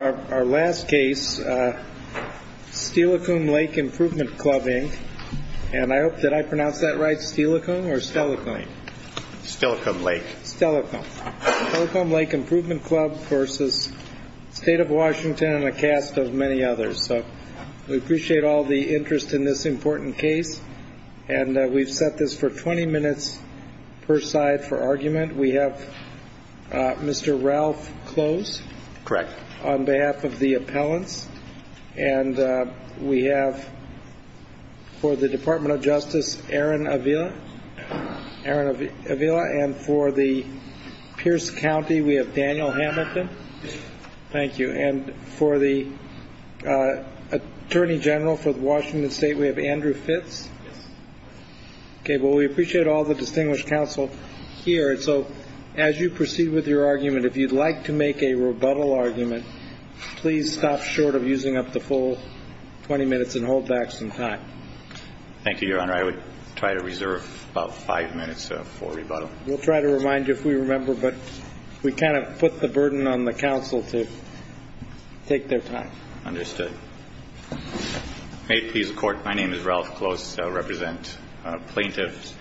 Our last case, Steilacoom Lake Improvement Club Inc., and I hope, did I pronounce that right, Steilacoom or Steilacoom? Steilacoom Lake. Steilacoom. Steilacoom Lake Improvement Club v. State of Washington and a cast of many others. So we appreciate all the interest in this important case. And we've set this for 20 minutes per side for argument. We have Mr. Ralph Close. Correct. On behalf of the appellants. And we have for the Department of Justice, Aaron Avila. Aaron Avila. And for the Pierce County, we have Daniel Hamilton. Thank you. And for the Attorney General for Washington State, we have Andrew Fitz. Yes. Okay. Well, we appreciate all the distinguished counsel here. So as you proceed with your argument, if you'd like to make a rebuttal argument, please stop short of using up the full 20 minutes and hold back some time. Thank you, Your Honor. I would try to reserve about five minutes for rebuttal. We'll try to remind you if we remember. But we kind of put the burden on the counsel to take their time. Understood. May it please the Court, my name is Ralph Close. I represent plaintiffs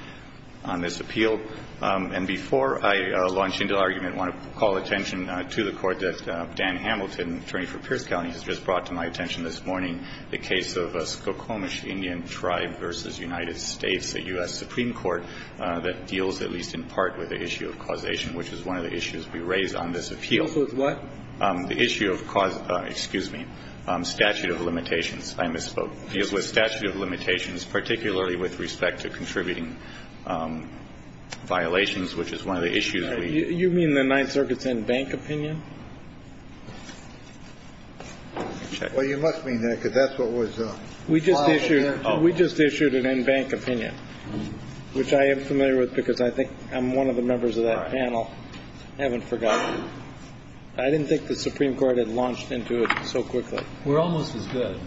on this appeal. And before I launch into argument, I want to call attention to the court that Dan Hamilton, attorney for Pierce County, has just brought to my attention this morning, the case of Skokomish Indian Tribe v. United States, a U.S. Supreme Court that deals at least in part with the issue of causation, which is one of the issues we raise on this appeal. The issue of what? The issue of cause of the statute of limitations. I misspoke. It deals with statute of limitations, particularly with respect to contributing violations, which is one of the issues we raise. You mean the Ninth Circuit's in-bank opinion? Well, you must mean that, because that's what was filed in there. We just issued an in-bank opinion, which I am familiar with because I think I'm one of the members of that panel. I haven't forgotten. I didn't think the Supreme Court had launched into it so quickly. We're almost as good.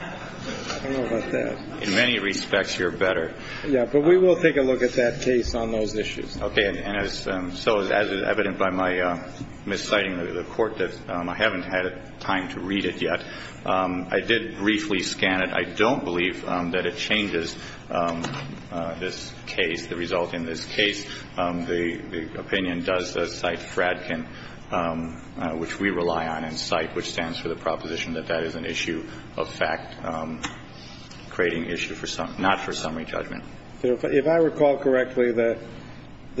I don't know about that. In many respects, you're better. Yeah. But we will take a look at that case on those issues. Okay. And so as is evident by my misciting the Court, I haven't had time to read it yet. I did briefly scan it. I don't believe that it changes this case, the result in this case. The opinion does cite Fradkin, which we rely on and cite, which stands for the proposition that that is an issue of fact, creating issue not for summary judgment. If I recall correctly, the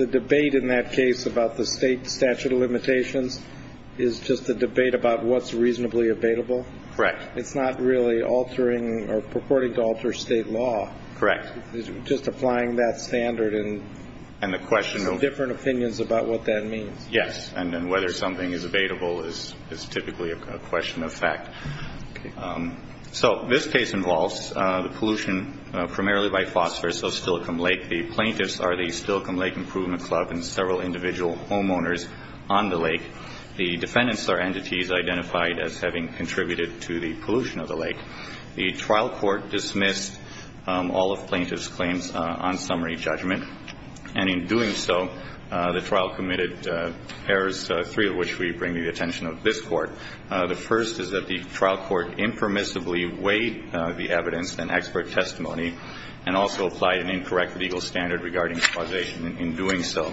debate in that case about the State statute of limitations is just a debate about what's reasonably abatable? Correct. It's not really altering or purporting to alter State law. Correct. Just applying that standard and the different opinions about what that means. Yes. And then whether something is abatable is typically a question of fact. Okay. So this case involves the pollution primarily by phosphorus of Stillicum Lake. The plaintiffs are the Stillicum Lake Improvement Club and several individual homeowners on the lake. The defendants are entities identified as having contributed to the pollution of the lake. The trial court dismissed all of plaintiffs' claims on summary judgment. And in doing so, the trial committed errors, three of which we bring to the attention of this Court. The first is that the trial court impermissibly weighed the evidence and expert testimony and also applied an incorrect legal standard regarding causation in doing so.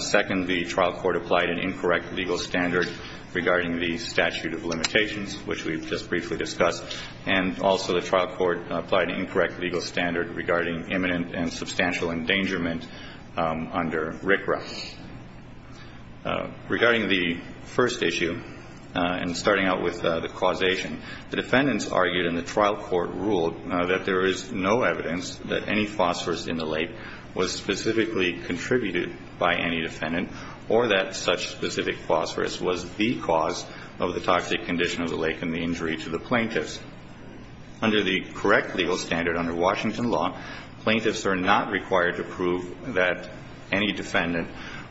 Second, the trial court applied an incorrect legal standard regarding the statute of limitations, which we just briefly discussed, and also the trial court applied an incorrect legal standard regarding imminent and substantial endangerment under RCRA. Regarding the first issue and starting out with the causation, the defendants argued and the trial court ruled that there is no evidence that any phosphorus in the lake was specifically contributed by any defendant or that such specific phosphorus was the cause of the toxic condition of the lake and the injury to the plaintiffs. Under the correct legal standard, under Washington law, plaintiffs are not required to prove that any defendant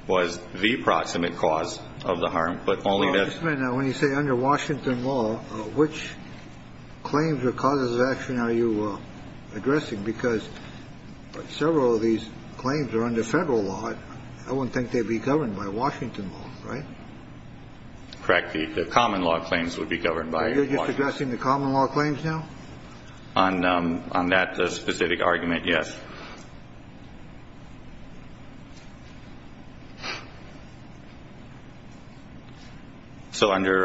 was the proximate cause of the harm, but only that's. Just a minute. Now, when you say under Washington law, which claims or causes of action are you addressing? Because several of these claims are under Federal law. I wouldn't think they'd be governed by Washington law, right? Correct. The common law claims would be governed by Washington law. So you're just addressing the common law claims now? On that specific argument, yes. So under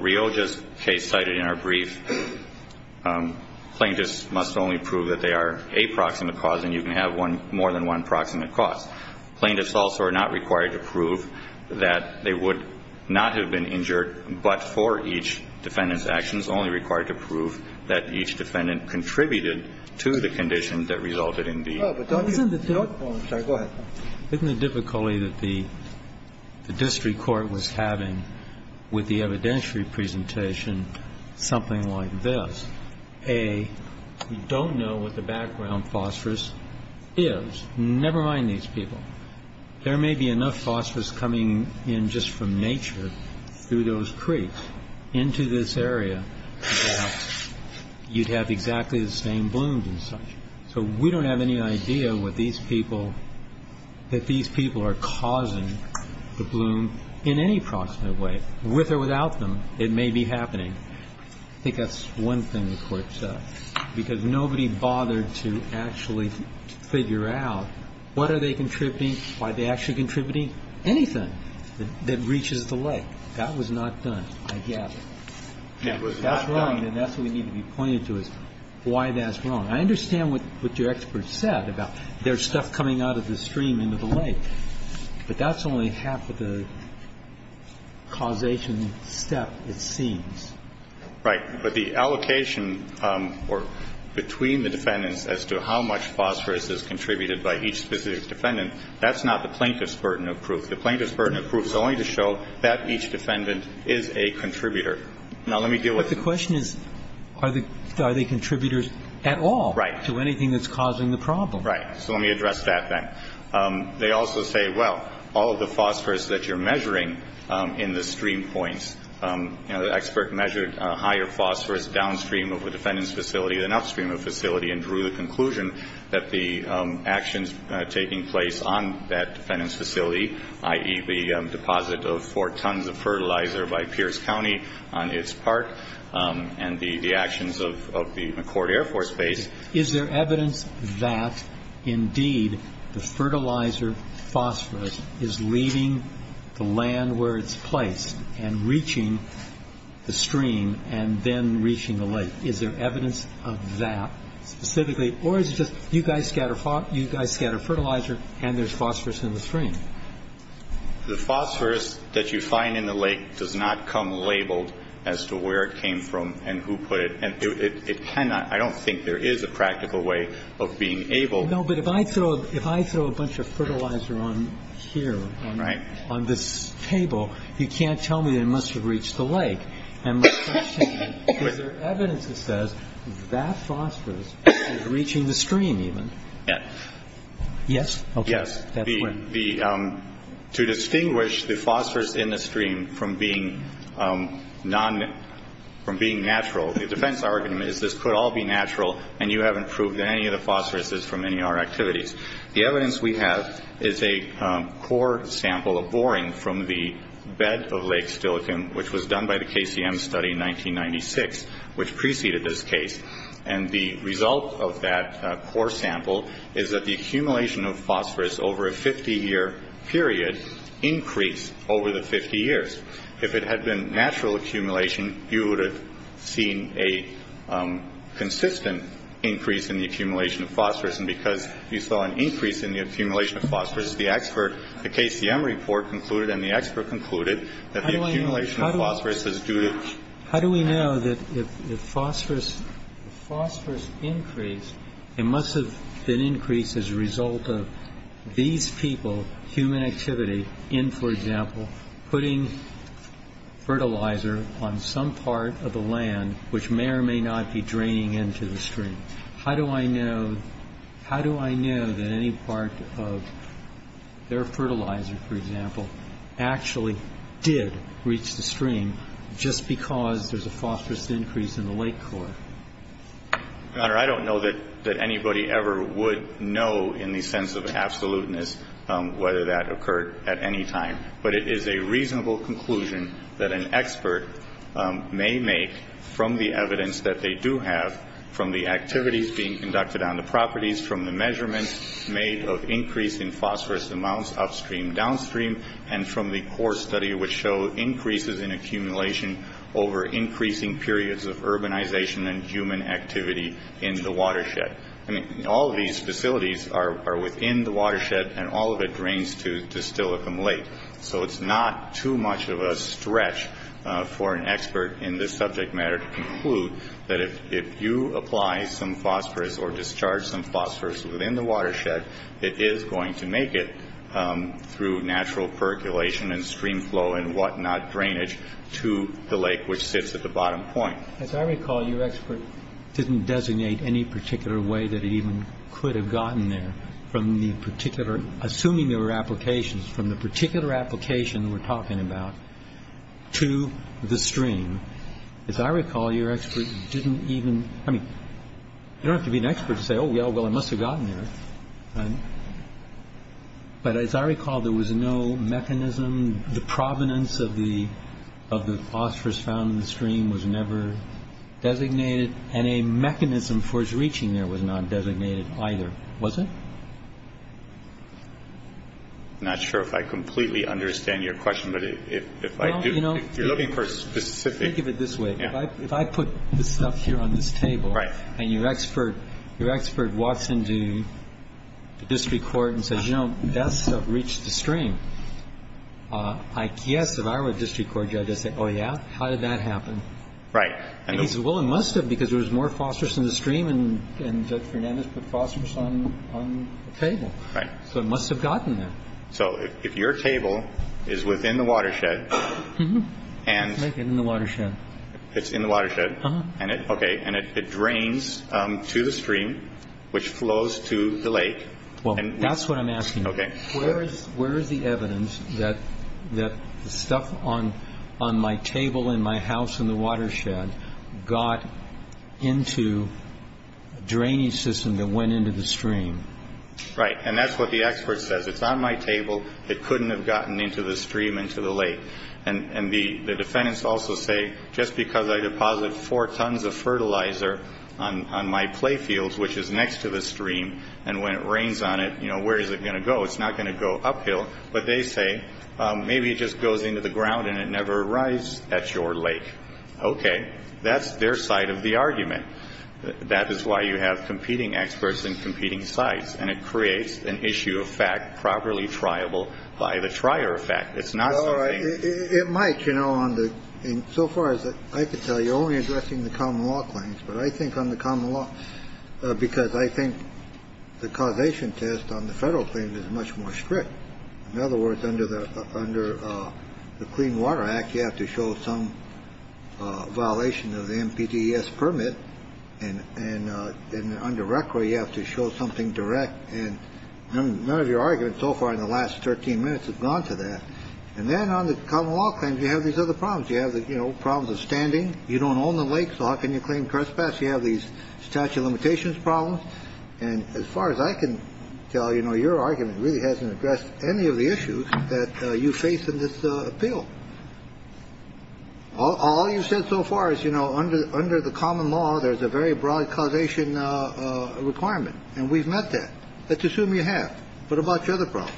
Rioja's case cited in our brief, plaintiffs must only prove that they are a proximate cause and you can have more than one proximate cause. Plaintiffs also are not required to prove that they would not have been injured, but for each defendant's actions, only required to prove that each defendant contributed to the condition that resulted in the injury. Isn't the difficulty that the district court was having with the evidentiary presentation something like this? A, you don't know what the background phosphorus is. Never mind these people. There may be enough phosphorus coming in just from nature through those creeks into this area that you'd have exactly the same blooms and such. So we don't have any idea what these people, that these people are causing the bloom in any proximate way, with or without them. It may be happening. I think that's one thing the Court said, because nobody bothered to actually figure out what are they contributing, why are they actually contributing anything that reaches the lake. That was not done, I gather. That's wrong and that's what we need to be pointing to is why that's wrong. I understand what your expert said about there's stuff coming out of the stream into the lake, but that's only half of the causation step it seems. Right. But the allocation or between the defendants as to how much phosphorus is contributed by each specific defendant, that's not the plaintiff's burden of proof. The plaintiff's burden of proof is only to show that each defendant is a contributor. Now, let me deal with it. But the question is, are they contributors at all to anything that's causing the problem? Right. So let me address that then. They also say, well, all of the phosphorus that you're measuring in the stream points, the expert measured higher phosphorus downstream of the defendant's facility than upstream of the facility and drew the conclusion that the actions taking place on that defendant's facility, i.e., the deposit of four tons of fertilizer by Pierce County on its part and the actions of the McCourt Air Force Base. Is there evidence that, indeed, the fertilizer phosphorus is leaving the land where it's placed and reaching the stream and then reaching the lake? Is there evidence of that specifically? Or is it just you guys scatter fertilizer and there's phosphorus in the stream? The phosphorus that you find in the lake does not come labeled as to where it came from and who put it. And it cannot, I don't think there is a practical way of being able to. No, but if I throw a bunch of fertilizer on here, on this table, you can't tell me it must have reached the lake. And my question is, is there evidence that says that phosphorus is reaching the stream even? Yes. Yes? Yes. To distinguish the phosphorus in the stream from being natural, the defense argument is this could all be natural and you haven't proved that any of the phosphorus is from any of our activities. The evidence we have is a core sample of boring from the bed of Lake Stilichem, which was done by the KCM study in 1996, which preceded this case. And the result of that core sample is that the accumulation of phosphorus over a 50-year period increased over the 50 years. If it had been natural accumulation, you would have seen a consistent increase in the accumulation of phosphorus. And because you saw an increase in the accumulation of phosphorus, the expert, the KCM report concluded and the expert concluded that the accumulation of phosphorus is due to. How do we know that if phosphorus increased, it must have been increased as a result of these people, human activity, in, for example, putting fertilizer on some part of the land, which may or may not be draining into the stream. How do I know, how do I know that any part of their fertilizer, for example, actually did reach the stream just because there's a phosphorus increase in the lake core? Your Honor, I don't know that anybody ever would know in the sense of absoluteness whether that occurred at any time. But it is a reasonable conclusion that an expert may make from the evidence that they do have, from the activities being conducted on the properties, from the measurements made of increase in phosphorus amounts upstream, downstream, and from the core study which show increases in accumulation over increasing periods of urbanization and human activity in the watershed. I mean, all of these facilities are within the watershed, and all of it drains to Distillicum Lake. So it's not too much of a stretch for an expert in this subject matter to conclude that if you apply some phosphorus or discharge some phosphorus within the watershed, it is going to make it through natural percolation and stream flow and what not drainage to the lake which sits at the bottom point. As I recall, your expert didn't designate any particular way that it even could have gotten there from the particular, assuming there were applications, from the particular application we're talking about to the stream. As I recall, your expert didn't even, I mean, you don't have to be an expert to say, oh, yeah, well, it must have gotten there. But as I recall, there was no mechanism. The provenance of the phosphorus found in the stream was never designated, and a mechanism for its reaching there was not designated either, was it? I'm not sure if I completely understand your question. But if I do, if you're looking for a specific- Well, you know, think of it this way. If I put this stuff here on this table- Right. And your expert walks into the district court and says, you know, that stuff reached the stream, I guess if I were a district court judge, I'd say, oh, yeah? How did that happen? Right. And he says, well, it must have because there was more phosphorus in the stream and Judge Fernandez put phosphorus on the table. Right. So it must have gotten there. So if your table is within the watershed and- Make it in the watershed. It's in the watershed. Uh-huh. Okay. And it drains to the stream, which flows to the lake. Well, that's what I'm asking. Okay. Where is the evidence that the stuff on my table in my house in the watershed got into a drainage system that went into the stream? Right. And that's what the expert says. It's on my table. It couldn't have gotten into the stream, into the lake. And the defendants also say just because I deposit four tons of fertilizer on my play fields, which is next to the stream, and when it rains on it, you know, where is it going to go? It's not going to go uphill. But they say maybe it just goes into the ground and it never arrives at your lake. Okay. That's their side of the argument. That is why you have competing experts and competing sides. And it creates an issue of fact properly triable by the trier effect. It's not something. It might. You know, so far as I can tell, you're only addressing the common law claims. But I think on the common law, because I think the causation test on the federal claim is much more strict. In other words, under the Clean Water Act, you have to show some violation of the NPDES permit. And then under record, you have to show something direct. And none of your argument so far in the last 13 minutes has gone to that. And then on the common law claims, you have these other problems. You have the problems of standing. You don't own the lake. So how can you claim crespass? You have these statute of limitations problems. And as far as I can tell, you know, your argument really hasn't addressed any of the issues that you face in this appeal. All you said so far is, you know, under under the common law, there's a very broad causation requirement. And we've met that. Let's assume you have. But about the other problems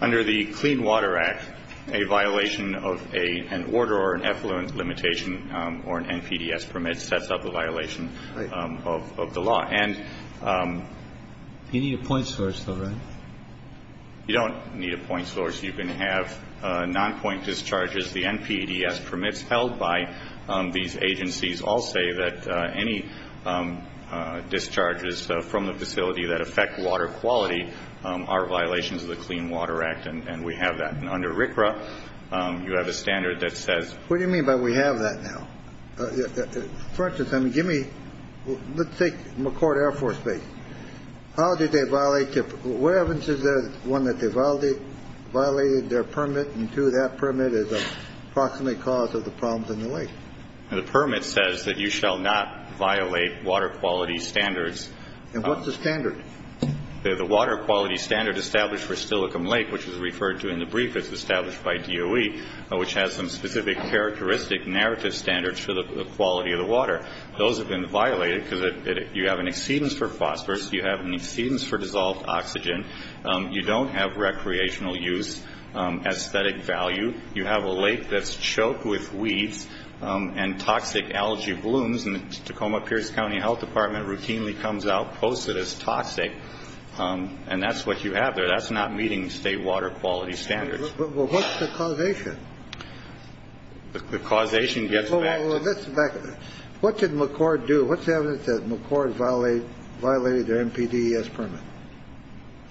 under the Clean Water Act, a violation of a an order or an effluent limitation or an NPDES permit sets up a violation of the law. And you need a point source. You don't need a point source. You can have non-point discharges. The NPDES permits held by these agencies all say that any discharges from the facility that affect water quality are violations of the Clean Water Act. And we have that under RCRA. You have a standard that says, what do you mean by we have that now? For instance, I mean, give me let's take McCord Air Force Base. How did they violate it? Where is the one that they've already violated their permit? And to that permit is approximately cause of the problems in the lake. And the permit says that you shall not violate water quality standards. And what's the standard? The water quality standard established for Stillicum Lake, which is referred to in the brief, is established by DOE, which has some specific characteristic narrative standards for the quality of the water. Those have been violated because you have an exceedance for phosphorus. You have an exceedance for dissolved oxygen. You don't have recreational use, aesthetic value. You have a lake that's choked with weeds and toxic algae blooms. And the Tacoma-Pierce County Health Department routinely comes out posted as toxic. And that's what you have there. That's not meeting state water quality standards. What's the causation? The causation gets back. What did McCord do? What's the evidence that McCord violated their NPDES permit?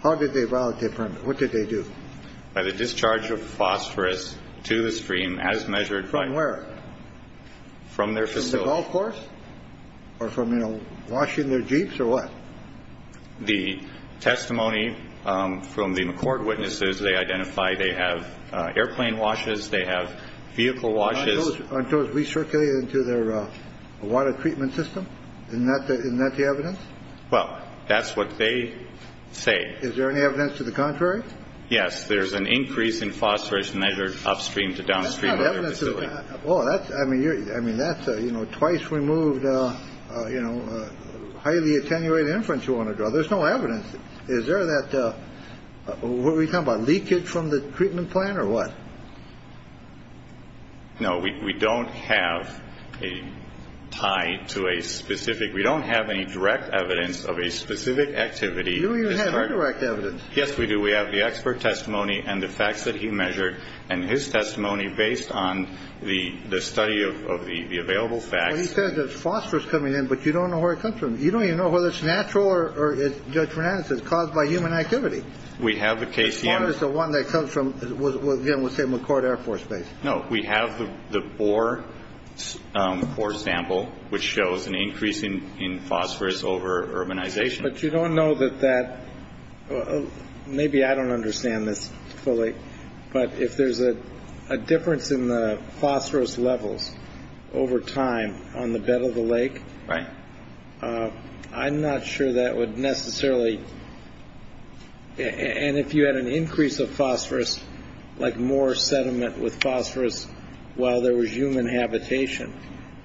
How did they violate their permit? What did they do? By the discharge of phosphorus to the stream as measured by. From where? From their facility. Or from, you know, washing their Jeeps or what? The testimony from the McCord witnesses, they identify they have airplane washes. They have vehicle washes. Aren't those recirculated into their water treatment system? Isn't that the evidence? Well, that's what they say. Is there any evidence to the contrary? Yes. There's an increase in phosphorus measured upstream to downstream of their facility. Well, that's, I mean, that's, you know, twice removed, you know, highly attenuated inference you want to draw. There's no evidence. Is there that, what were you talking about, leakage from the treatment plant or what? No, we don't have a tie to a specific, we don't have any direct evidence of a specific activity. You don't even have indirect evidence. Yes, we do. We have the expert testimony and the facts that he measured and his testimony based on the study of the available facts. He says that phosphorus coming in, but you don't know where it comes from. You don't even know whether it's natural or it's, Judge Bernanke says, caused by human activity. We have the case. As far as the one that comes from, again, we'll say McCord Air Force Base. No, we have the bore sample, which shows an increase in phosphorus over urbanization. But you don't know that that maybe I don't understand this fully. But if there's a difference in the phosphorus levels over time on the bed of the lake, I'm not sure that would necessarily. And if you had an increase of phosphorus, like more sediment with phosphorus while there was human habitation,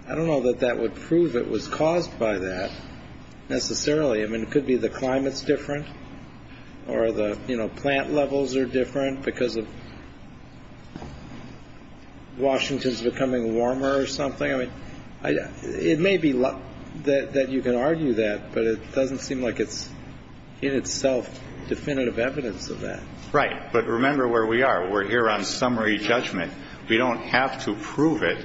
I don't know that that would prove it was caused by that necessarily. I mean, it could be the climate's different or the plant levels are different because of Washington's becoming warmer or something. I mean, it may be that you can argue that, but it doesn't seem like it's in itself definitive evidence of that. Right. But remember where we are. We're here on summary judgment. We don't have to prove it.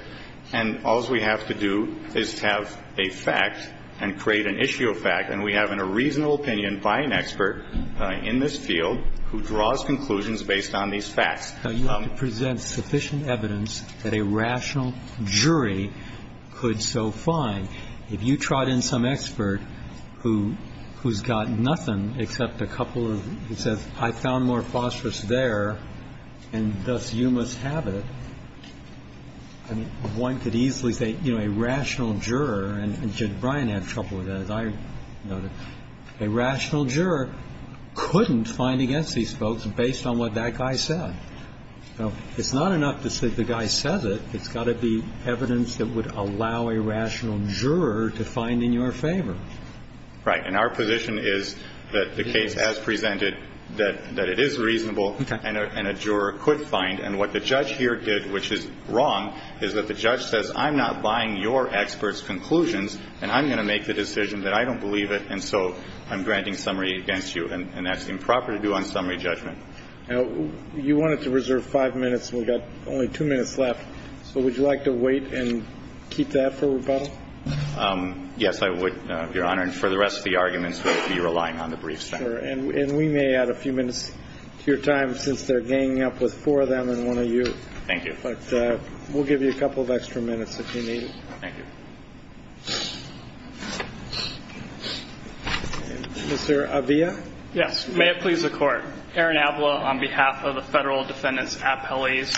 And all we have to do is have a fact and create an issue of fact. And we have a reasonable opinion by an expert in this field who draws conclusions based on these facts. You have to present sufficient evidence that a rational jury could so find. If you trot in some expert who who's got nothing except a couple of it says I found more phosphorus there and thus you must have it. I mean, one could easily say, you know, a rational juror and Brian had trouble with that. As I know, a rational juror couldn't find against these folks based on what that guy said. So it's not enough to say the guy says it. It's got to be evidence that would allow a rational juror to find in your favor. Right. And our position is that the case has presented that that it is reasonable and a juror could find. And what the judge here did, which is wrong, is that the judge says I'm not buying your experts conclusions and I'm going to make the decision that I don't believe it. And so I'm granting summary against you. And that's improper to do on summary judgment. Now, you wanted to reserve five minutes. We've got only two minutes left. So would you like to wait and keep that for rebuttal? Yes, I would, Your Honor. And for the rest of the arguments, we'll be relying on the brief. And we may add a few minutes to your time since they're ganging up with four of them and one of you. Thank you. But we'll give you a couple of extra minutes if you need it. Thank you. Mr. Avila. Yes. May it please the Court. Aaron Avila on behalf of the Federal Defendant's Appellees.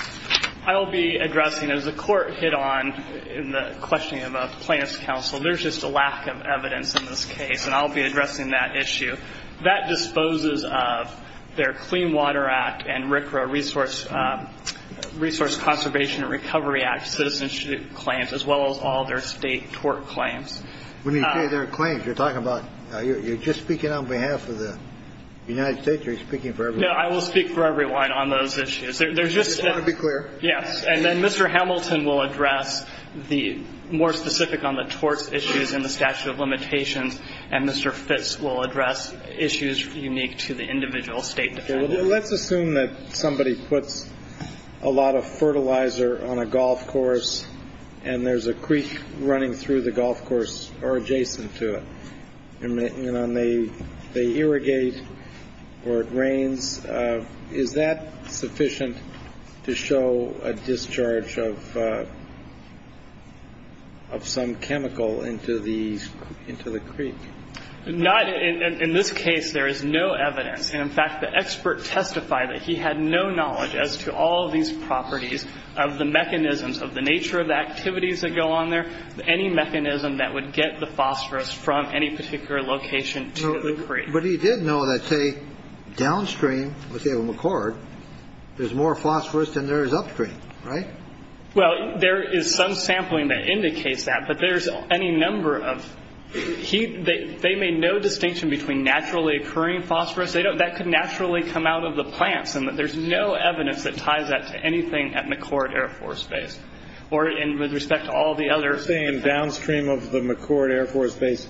I'll be addressing, as the Court hit on in the questioning of a plaintiff's counsel, there's just a lack of evidence in this case, and I'll be addressing that issue. That disposes of their Clean Water Act and RCRA Resource Conservation and Recovery Act citizenship claims, as well as all their state tort claims. When you say their claims, you're talking about you're just speaking on behalf of the United States or you're speaking for everyone? No, I will speak for everyone on those issues. Just want to be clear. Yes. And then Mr. Hamilton will address the more specific on the torts issues in the statute of limitations, and Mr. Fitts will address issues unique to the individual State Defendant. Let's assume that somebody puts a lot of fertilizer on a golf course and there's a creek running through the golf course or adjacent to it. And they irrigate or it rains. Is that sufficient to show a discharge of some chemical into the creek? Not in this case. There is no evidence. And, in fact, the expert testified that he had no knowledge as to all of these properties of the mechanisms of the nature of the activities that go on there, any mechanism that would get the phosphorus from any particular location to the creek. But he did know that, say, downstream, let's say McCord, there's more phosphorus than there is upstream. Right. Well, there is some sampling that indicates that. But there's any number of heat. They made no distinction between naturally occurring phosphorus. They don't. That could naturally come out of the plants. And there's no evidence that ties that to anything at McCord Air Force Base or with respect to all the other. You're saying downstream of the McCord Air Force Base,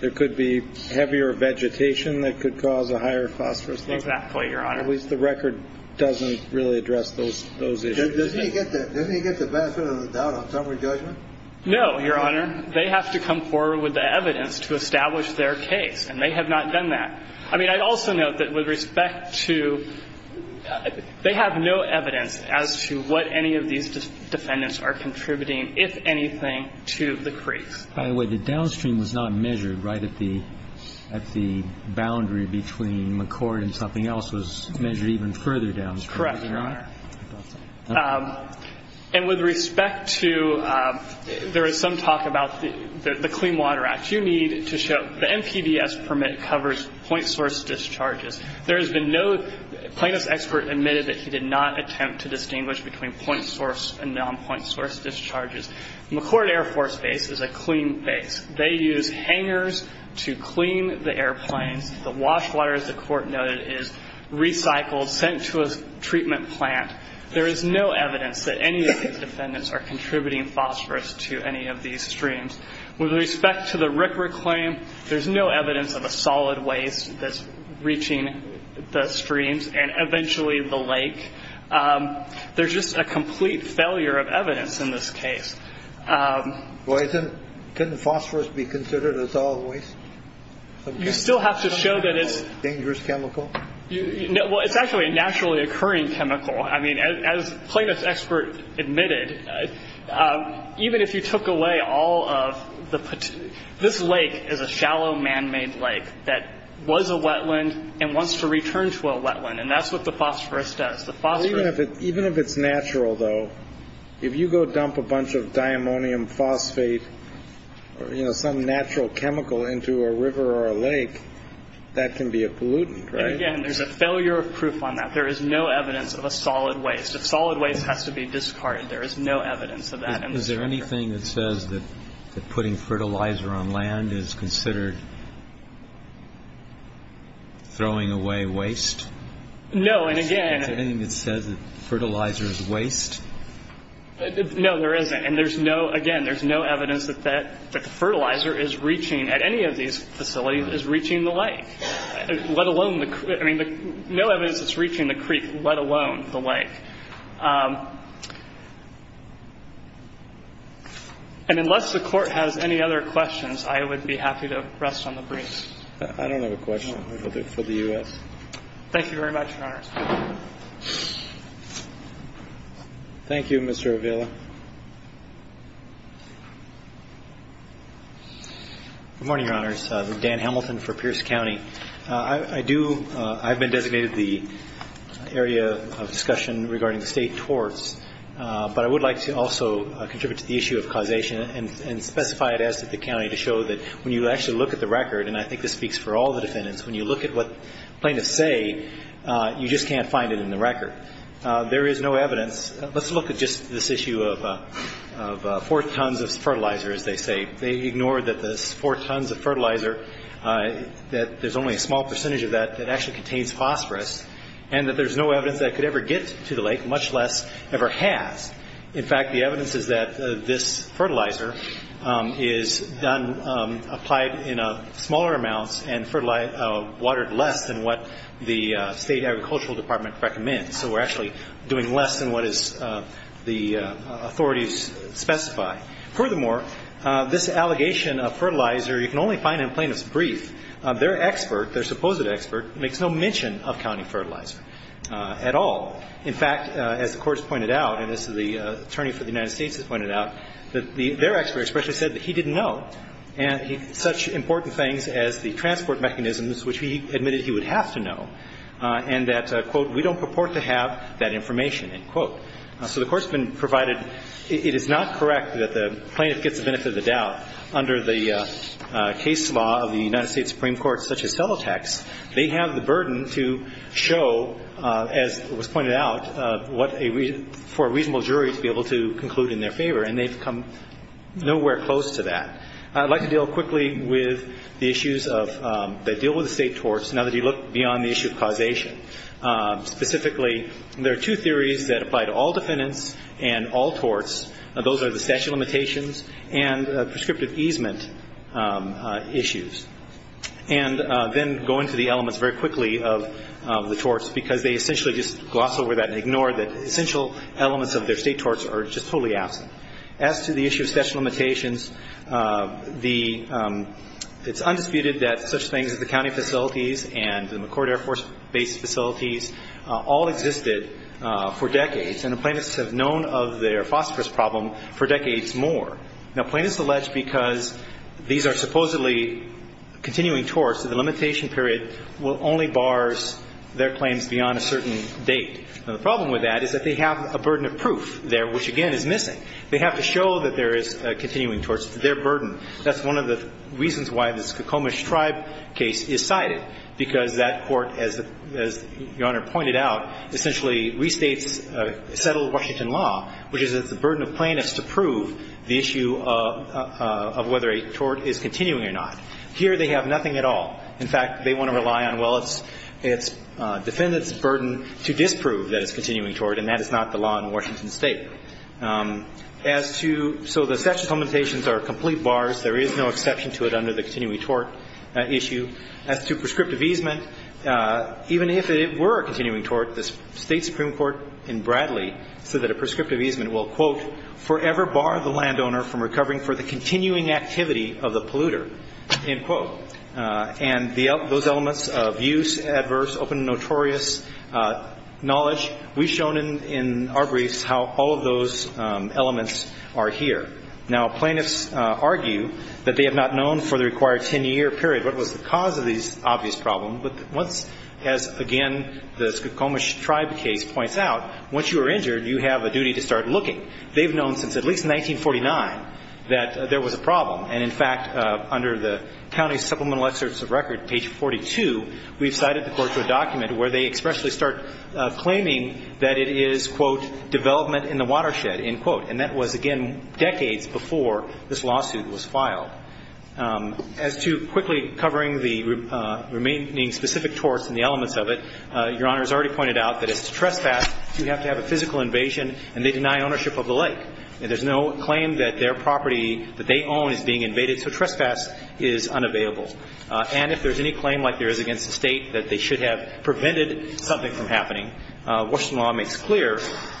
there could be heavier vegetation that could cause a higher phosphorus. Exactly, Your Honor. At least the record doesn't really address those issues. Doesn't he get the benefit of the doubt on summary judgment? No, Your Honor. They have to come forward with the evidence to establish their case. And they have not done that. I mean, I'd also note that with respect to they have no evidence as to what any of these defendants are contributing, if anything, to the creeks. By the way, the downstream was not measured, right? At the boundary between McCord and something else was measured even further downstream. Correct, Your Honor. And with respect to there is some talk about the Clean Water Act. You need to show the NPBS permit covers point source discharges. There has been no plaintiff's expert admitted that he did not attempt to distinguish between point source and non-point source discharges. McCord Air Force Base is a clean base. They use hangers to clean the airplanes. The wash water, as the court noted, is recycled, sent to a treatment plant. There is no evidence that any of these defendants are contributing phosphorus to any of these streams. With respect to the record claim, there's no evidence of a solid waste that's reaching the streams and eventually the lake. There's just a complete failure of evidence in this case. Well, isn't phosphorus be considered as always? You still have to show that it's dangerous chemical. Well, it's actually a naturally occurring chemical. I mean, as plaintiff's expert admitted, even if you took away all of the. This lake is a shallow man-made lake that was a wetland and wants to return to a wetland. And that's what the phosphorus does. Even if it's natural, though, if you go dump a bunch of diammonium phosphate or some natural chemical into a river or a lake, that can be a pollutant. There's a failure of proof on that. There is no evidence of a solid waste. A solid waste has to be discarded. There is no evidence of that. Is there anything that says that putting fertilizer on land is considered throwing away waste? No. And again. Is there anything that says that fertilizer is waste? No, there isn't. And there's no, again, there's no evidence that the fertilizer is reaching, at any of these facilities, is reaching the lake. Let alone, I mean, no evidence it's reaching the creek, let alone the lake. And unless the Court has any other questions, I would be happy to rest on the briefs. I don't have a question for the U.S. Thank you very much, Your Honors. Thank you, Mr. Avila. Good morning, Your Honors. I'm Dan Hamilton for Pierce County. I do, I've been designated the area of discussion regarding state torts, but I would like to also contribute to the issue of causation and specify it as to the county to show that when you actually look at the record, and I think this speaks for all the defendants, when you look at what plaintiffs say, you just can't find it in the record. There is no evidence. Let's look at just this issue of four tons of fertilizer, as they say. They ignore that this four tons of fertilizer, that there's only a small percentage of that that actually contains phosphorus, and that there's no evidence that it could ever get to the lake, much less ever has. In fact, the evidence is that this fertilizer is applied in smaller amounts and watered less than what the state agricultural department recommends. So we're actually doing less than what the authorities specify. Furthermore, this allegation of fertilizer, you can only find in a plaintiff's brief. Their expert, their supposed expert, makes no mention of county fertilizer at all. In fact, as the court has pointed out, and this is the attorney for the United States that pointed out, that their expert especially said that he didn't know such important things as the transport mechanisms, which he admitted he would have to know, and that, quote, we don't purport to have that information, end quote. So the court's been provided. It is not correct that the plaintiff gets the benefit of the doubt under the case law of the United States Supreme Court, such as fellow tax. They have the burden to show, as was pointed out, for a reasonable jury to be able to conclude in their favor, and they've come nowhere close to that. I'd like to deal quickly with the issues that deal with the state torts, now that you look beyond the issue of causation. Specifically, there are two theories that apply to all defendants and all torts. Those are the statute of limitations and prescriptive easement issues. And then go into the elements very quickly of the torts, because they essentially just gloss over that and ignore that essential elements of their state torts are just totally absent. As to the issue of statute of limitations, the ‑‑ it's undisputed that such things as the county facilities and the McCourt Air Force Base facilities all existed for decades, and the plaintiffs have known of their phosphorus problem for decades more. Now, plaintiffs allege because these are supposedly continuing torts, that the limitation period will only bars their claims beyond a certain date. Now, the problem with that is that they have a burden of proof there, which, again, is missing. They have to show that there is continuing torts. It's their burden. That's one of the reasons why the Skokomish Tribe case is cited, because that court, as Your Honor pointed out, essentially restates settled Washington law, which is that it's the burden of plaintiffs to prove the issue of whether a tort is continuing or not. Here, they have nothing at all. In fact, they want to rely on, well, it's defendants' burden to disprove that it's continuing tort, and that is not the law in Washington State. As to ‑‑ so the statute of limitations are complete bars. There is no exception to it under the continuing tort issue. As to prescriptive easement, even if it were a continuing tort, the State Supreme Court in Bradley said that a prescriptive easement will, quote, forever bar the landowner from recovering for the continuing activity of the polluter, end quote. And those elements of use, adverse, open, notorious knowledge, we've shown in our briefs how all of those elements are here. Now, plaintiffs argue that they have not known for the required 10‑year period what was the cause of these obvious problems. But once, as, again, the Skokomish Tribe case points out, once you are injured, you have a duty to start looking. They've known since at least 1949 that there was a problem. And, in fact, under the county's supplemental excerpts of record, page 42, we've cited the court to a document where they expressly start claiming that it is, quote, development in the watershed, end quote. And that was, again, decades before this lawsuit was filed. As to quickly covering the remaining specific torts and the elements of it, Your Honor has already pointed out that it's a trespass. You have to have a physical invasion, and they deny ownership of the lake. There's no claim that their property that they own is being invaded. So trespass is unavailable. And if there's any claim, like there is against the State, that they should have prevented something from happening, Washington law makes clear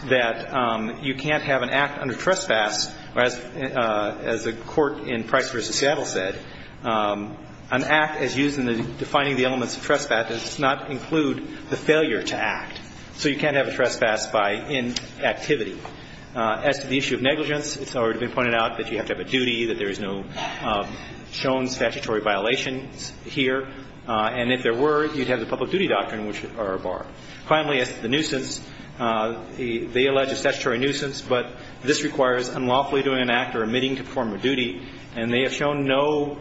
that you can't have an act under trespass, or as the court in Price v. Seattle said, an act as used in defining the elements of trespass does not include the failure to act. So you can't have a trespass by inactivity. As to the issue of negligence, it's already been pointed out that you have to have a duty, that there is no shown statutory violations here. And if there were, you'd have the public duty doctrine, which are a bar. Finally, as to the nuisance, they allege a statutory nuisance, but this requires unlawfully doing an act or omitting to perform a duty, and they have shown no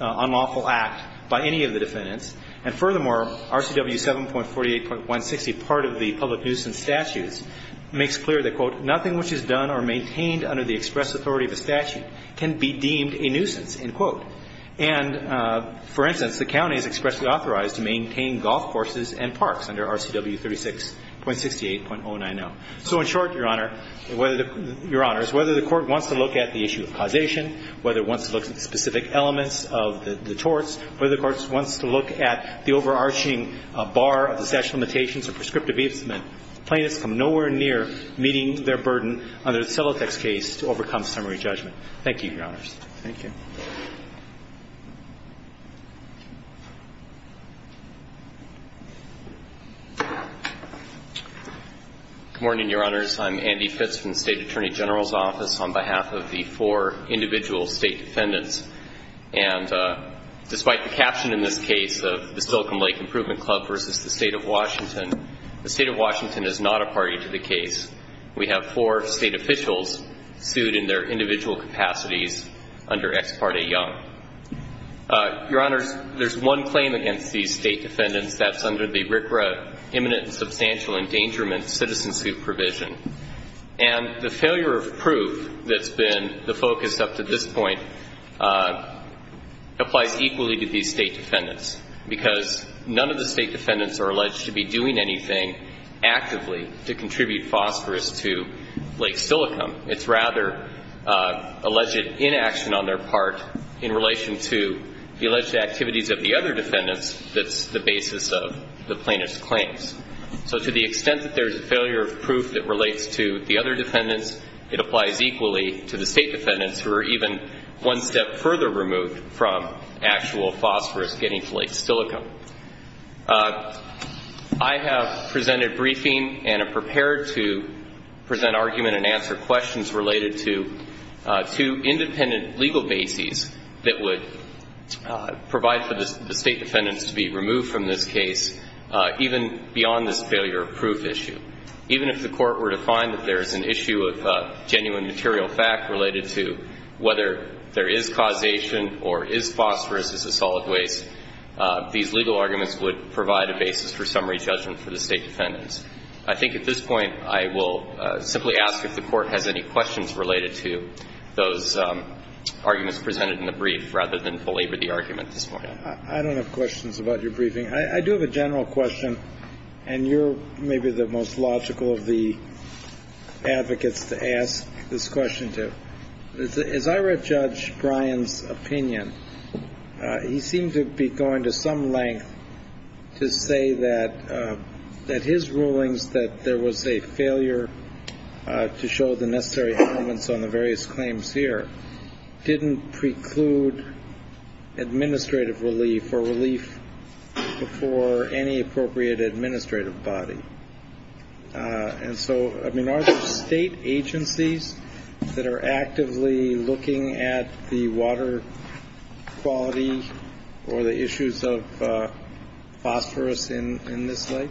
unlawful act by any of the defendants. And furthermore, RCW 7.48.160, part of the public nuisance statutes, makes clear that, quote, nothing which is done or maintained under the express authority of a statute can be deemed a nuisance, end quote. And, for instance, the county is expressly authorized to maintain golf courses and parks under RCW 36.68.090. So in short, Your Honor, whether the – Your Honors, whether the court wants to look at the issue of causation, whether it wants to look at the specific elements of the torts, whether the court wants to look at the overarching bar of the statute of limitations or prescriptive easement, plaintiffs come nowhere near meeting their burden under the Celotex case to overcome summary judgment. Thank you, Your Honors. Thank you. Good morning, Your Honors. I'm Andy Fitz from the State Attorney General's Office on behalf of the four individual state defendants. And despite the caption in this case, of the Silicon Lake Improvement Club versus the State of Washington, the State of Washington is not a party to the case. We have four state officials sued in their individual capacities under Ex Parte Young. Your Honors, there's one claim against these state defendants. That's under the RCRA imminent and substantial endangerment citizenship provision. And the failure of proof that's been the focus up to this point applies equally to these state defendants because none of the state defendants are alleged to be doing anything actively to contribute phosphorus to Lake Silicon. It's rather alleged inaction on their part in relation to the alleged activities of the other defendants that's the basis of the plaintiff's claims. So to the extent that there's a failure of proof that relates to the other defendants, it applies equally to the state defendants who are even one step further removed from actual phosphorus getting to Lake Silicon. I have presented briefing and am prepared to present argument and answer questions related to two independent legal bases that would provide for the state defendants to be removed from this case, even beyond this failure of proof issue. Even if the Court were to find that there's an issue of genuine material fact related to whether there is causation or is phosphorus a solid waste, these legal arguments would provide a basis for summary judgment for the state defendants. I think at this point I will simply ask if the Court has any questions related to those arguments presented in the brief rather than belabor the argument at this point. I don't have questions about your briefing. I do have a general question, and you're maybe the most logical of the advocates to ask this question to. As I read Judge Bryan's opinion, he seemed to be going to some length to say that his rulings, that there was a failure to show the necessary elements on the various claims here, didn't preclude administrative relief or relief before any appropriate administrative body. And so, I mean, are there state agencies that are actively looking at the water quality or the issues of phosphorus in this lake?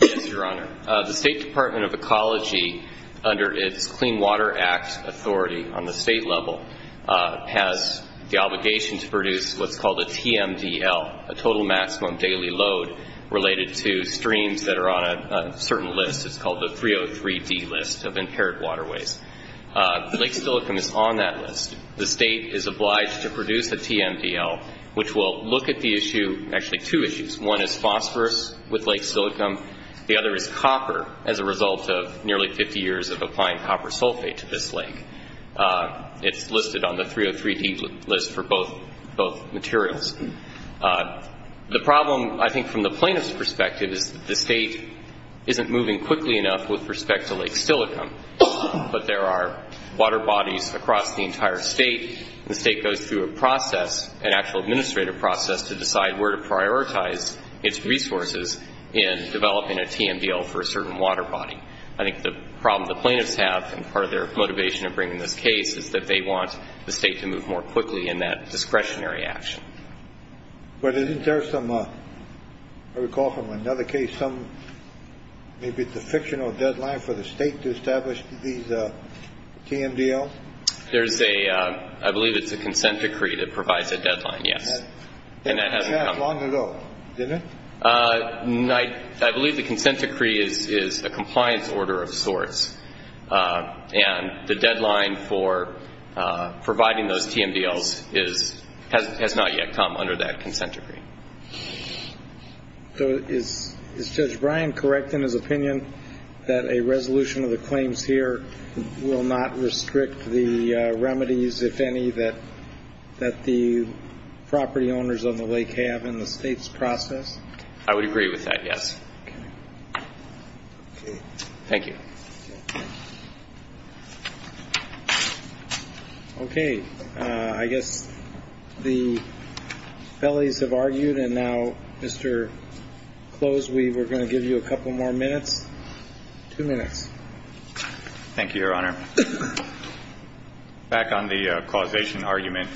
Yes, Your Honor. The State Department of Ecology, under its Clean Water Act authority on the state level, has the obligation to produce what's called a TMDL, a total maximum daily load related to streams that are on a certain list. It's called the 303D list of impaired waterways. Lake Silicon is on that list. The state is obliged to produce a TMDL, which will look at the issue, actually two issues. One is phosphorus with Lake Silicon. The other is copper as a result of nearly 50 years of applying copper sulfate to this lake. It's listed on the 303D list for both materials. The problem, I think, from the plaintiff's perspective, is that the state isn't moving quickly enough with respect to Lake Silicon, but there are water bodies across the entire state. The state goes through a process, an actual administrative process, to decide where to prioritize its resources in developing a TMDL for a certain water body. I think the problem the plaintiffs have and part of their motivation of bringing this case is that they want the state to move more quickly in that discretionary action. But isn't there some, I recall from another case, some maybe it's a fictional deadline for the state to establish these TMDLs? There's a, I believe it's a consent decree that provides a deadline, yes. And that hasn't come. Didn't pass long ago, did it? I believe the consent decree is a compliance order of sorts. And the deadline for providing those TMDLs has not yet come under that consent decree. So is Judge Bryan correct in his opinion that a resolution of the claims here will not restrict the remedies, if any, that the property owners on the lake have in the state's process? I would agree with that, yes. Okay. Thank you. Okay. I guess the felonies have argued, and now, Mr. Close, we were going to give you a couple more minutes. Two minutes. Thank you, Your Honor. Back on the causation argument,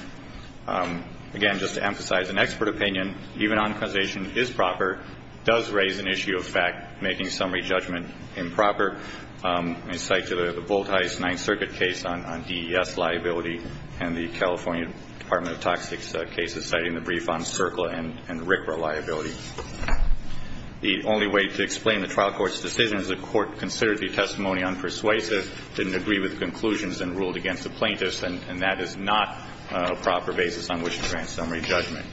again, just to emphasize, an expert opinion, even on causation, is proper, does raise an issue of fact, making summary judgment improper. I cite the Voltheis Ninth Circuit case on DES liability and the California Department of Toxics case, citing the brief on CERCLA and RCRA liability. The only way to explain the trial court's decision is the court considered the testimony unpersuasive, didn't agree with the conclusions, and ruled against the plaintiffs. And that is not a proper basis on which to grant summary judgment.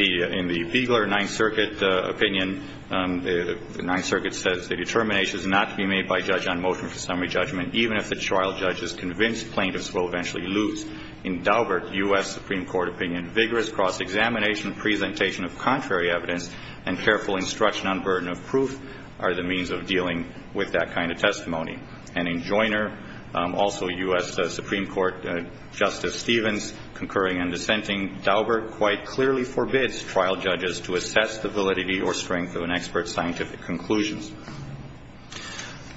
In the Beigler Ninth Circuit opinion, the Ninth Circuit says the determination is not to be made by a judge on motion for summary judgment, even if the trial judge is convinced plaintiffs will eventually lose. In Daubert, U.S. Supreme Court opinion, vigorous cross-examination and presentation of contrary evidence and careful instruction on burden of proof are the means of dealing with that kind of testimony. And in Joiner, also U.S. Supreme Court Justice Stevens, concurring and dissenting, Daubert quite clearly forbids trial judges to assess the validity or strength of an expert's scientific conclusions.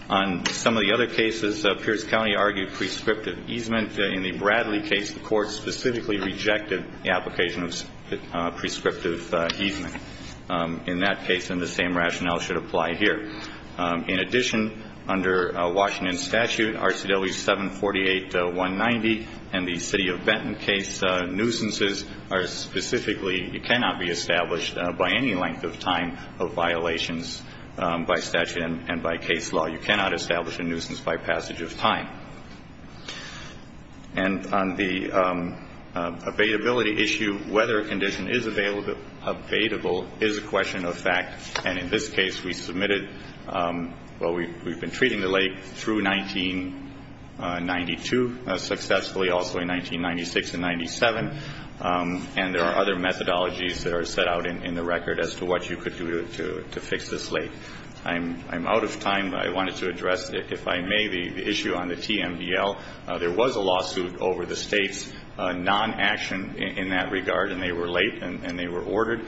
On some of the other cases, Pierce County argued prescriptive easement. In the Bradley case, the court specifically rejected the application of prescriptive easement. In that case, then, the same rationale should apply here. In addition, under Washington statute, RCW 748-190 and the City of Benton case, nuisances are specifically cannot be established by any length of time of violations by statute and by case law. You cannot establish a nuisance by passage of time. And on the availability issue, whether a condition is available is a question of fact. And in this case, we submitted, well, we've been treating the late through 1992 successfully, also in 1996 and 97, and there are other methodologies that are set out in the record as to what you could do to fix this late. I'm out of time, but I wanted to address, if I may, the issue on the TMVL. There was a lawsuit over the State's non-action in that regard, and they were late and they were ordered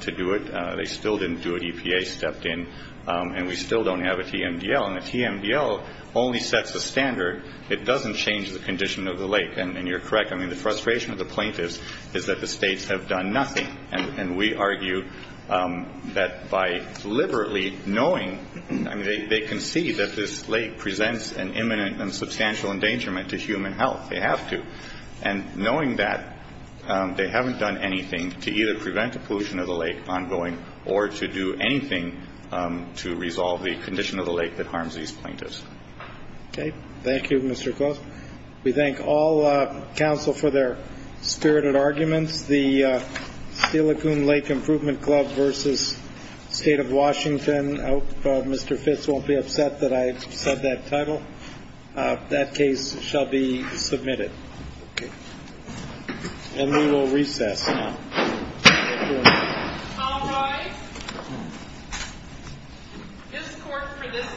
to do it. They still didn't do it. EPA stepped in. And we still don't have a TMVL. And the TMVL only sets a standard. It doesn't change the condition of the late. And you're correct. I mean, the frustration of the plaintiffs is that the States have done nothing. And we argue that by deliberately knowing, I mean, they concede that this late presents an imminent and substantial endangerment to human health. They have to. And knowing that, they haven't done anything to either prevent the pollution of the late ongoing or to do anything to resolve the condition of the late that harms these plaintiffs. Okay. Thank you, Mr. Klaus. We thank all counsel for their spirited arguments. The Steel Lacoon Lake Improvement Club versus State of Washington. I hope Mr. Fitz won't be upset that I said that title. That case shall be submitted. Okay. And we will recess now. Thank you. All rise. This court for this session stands adjourned.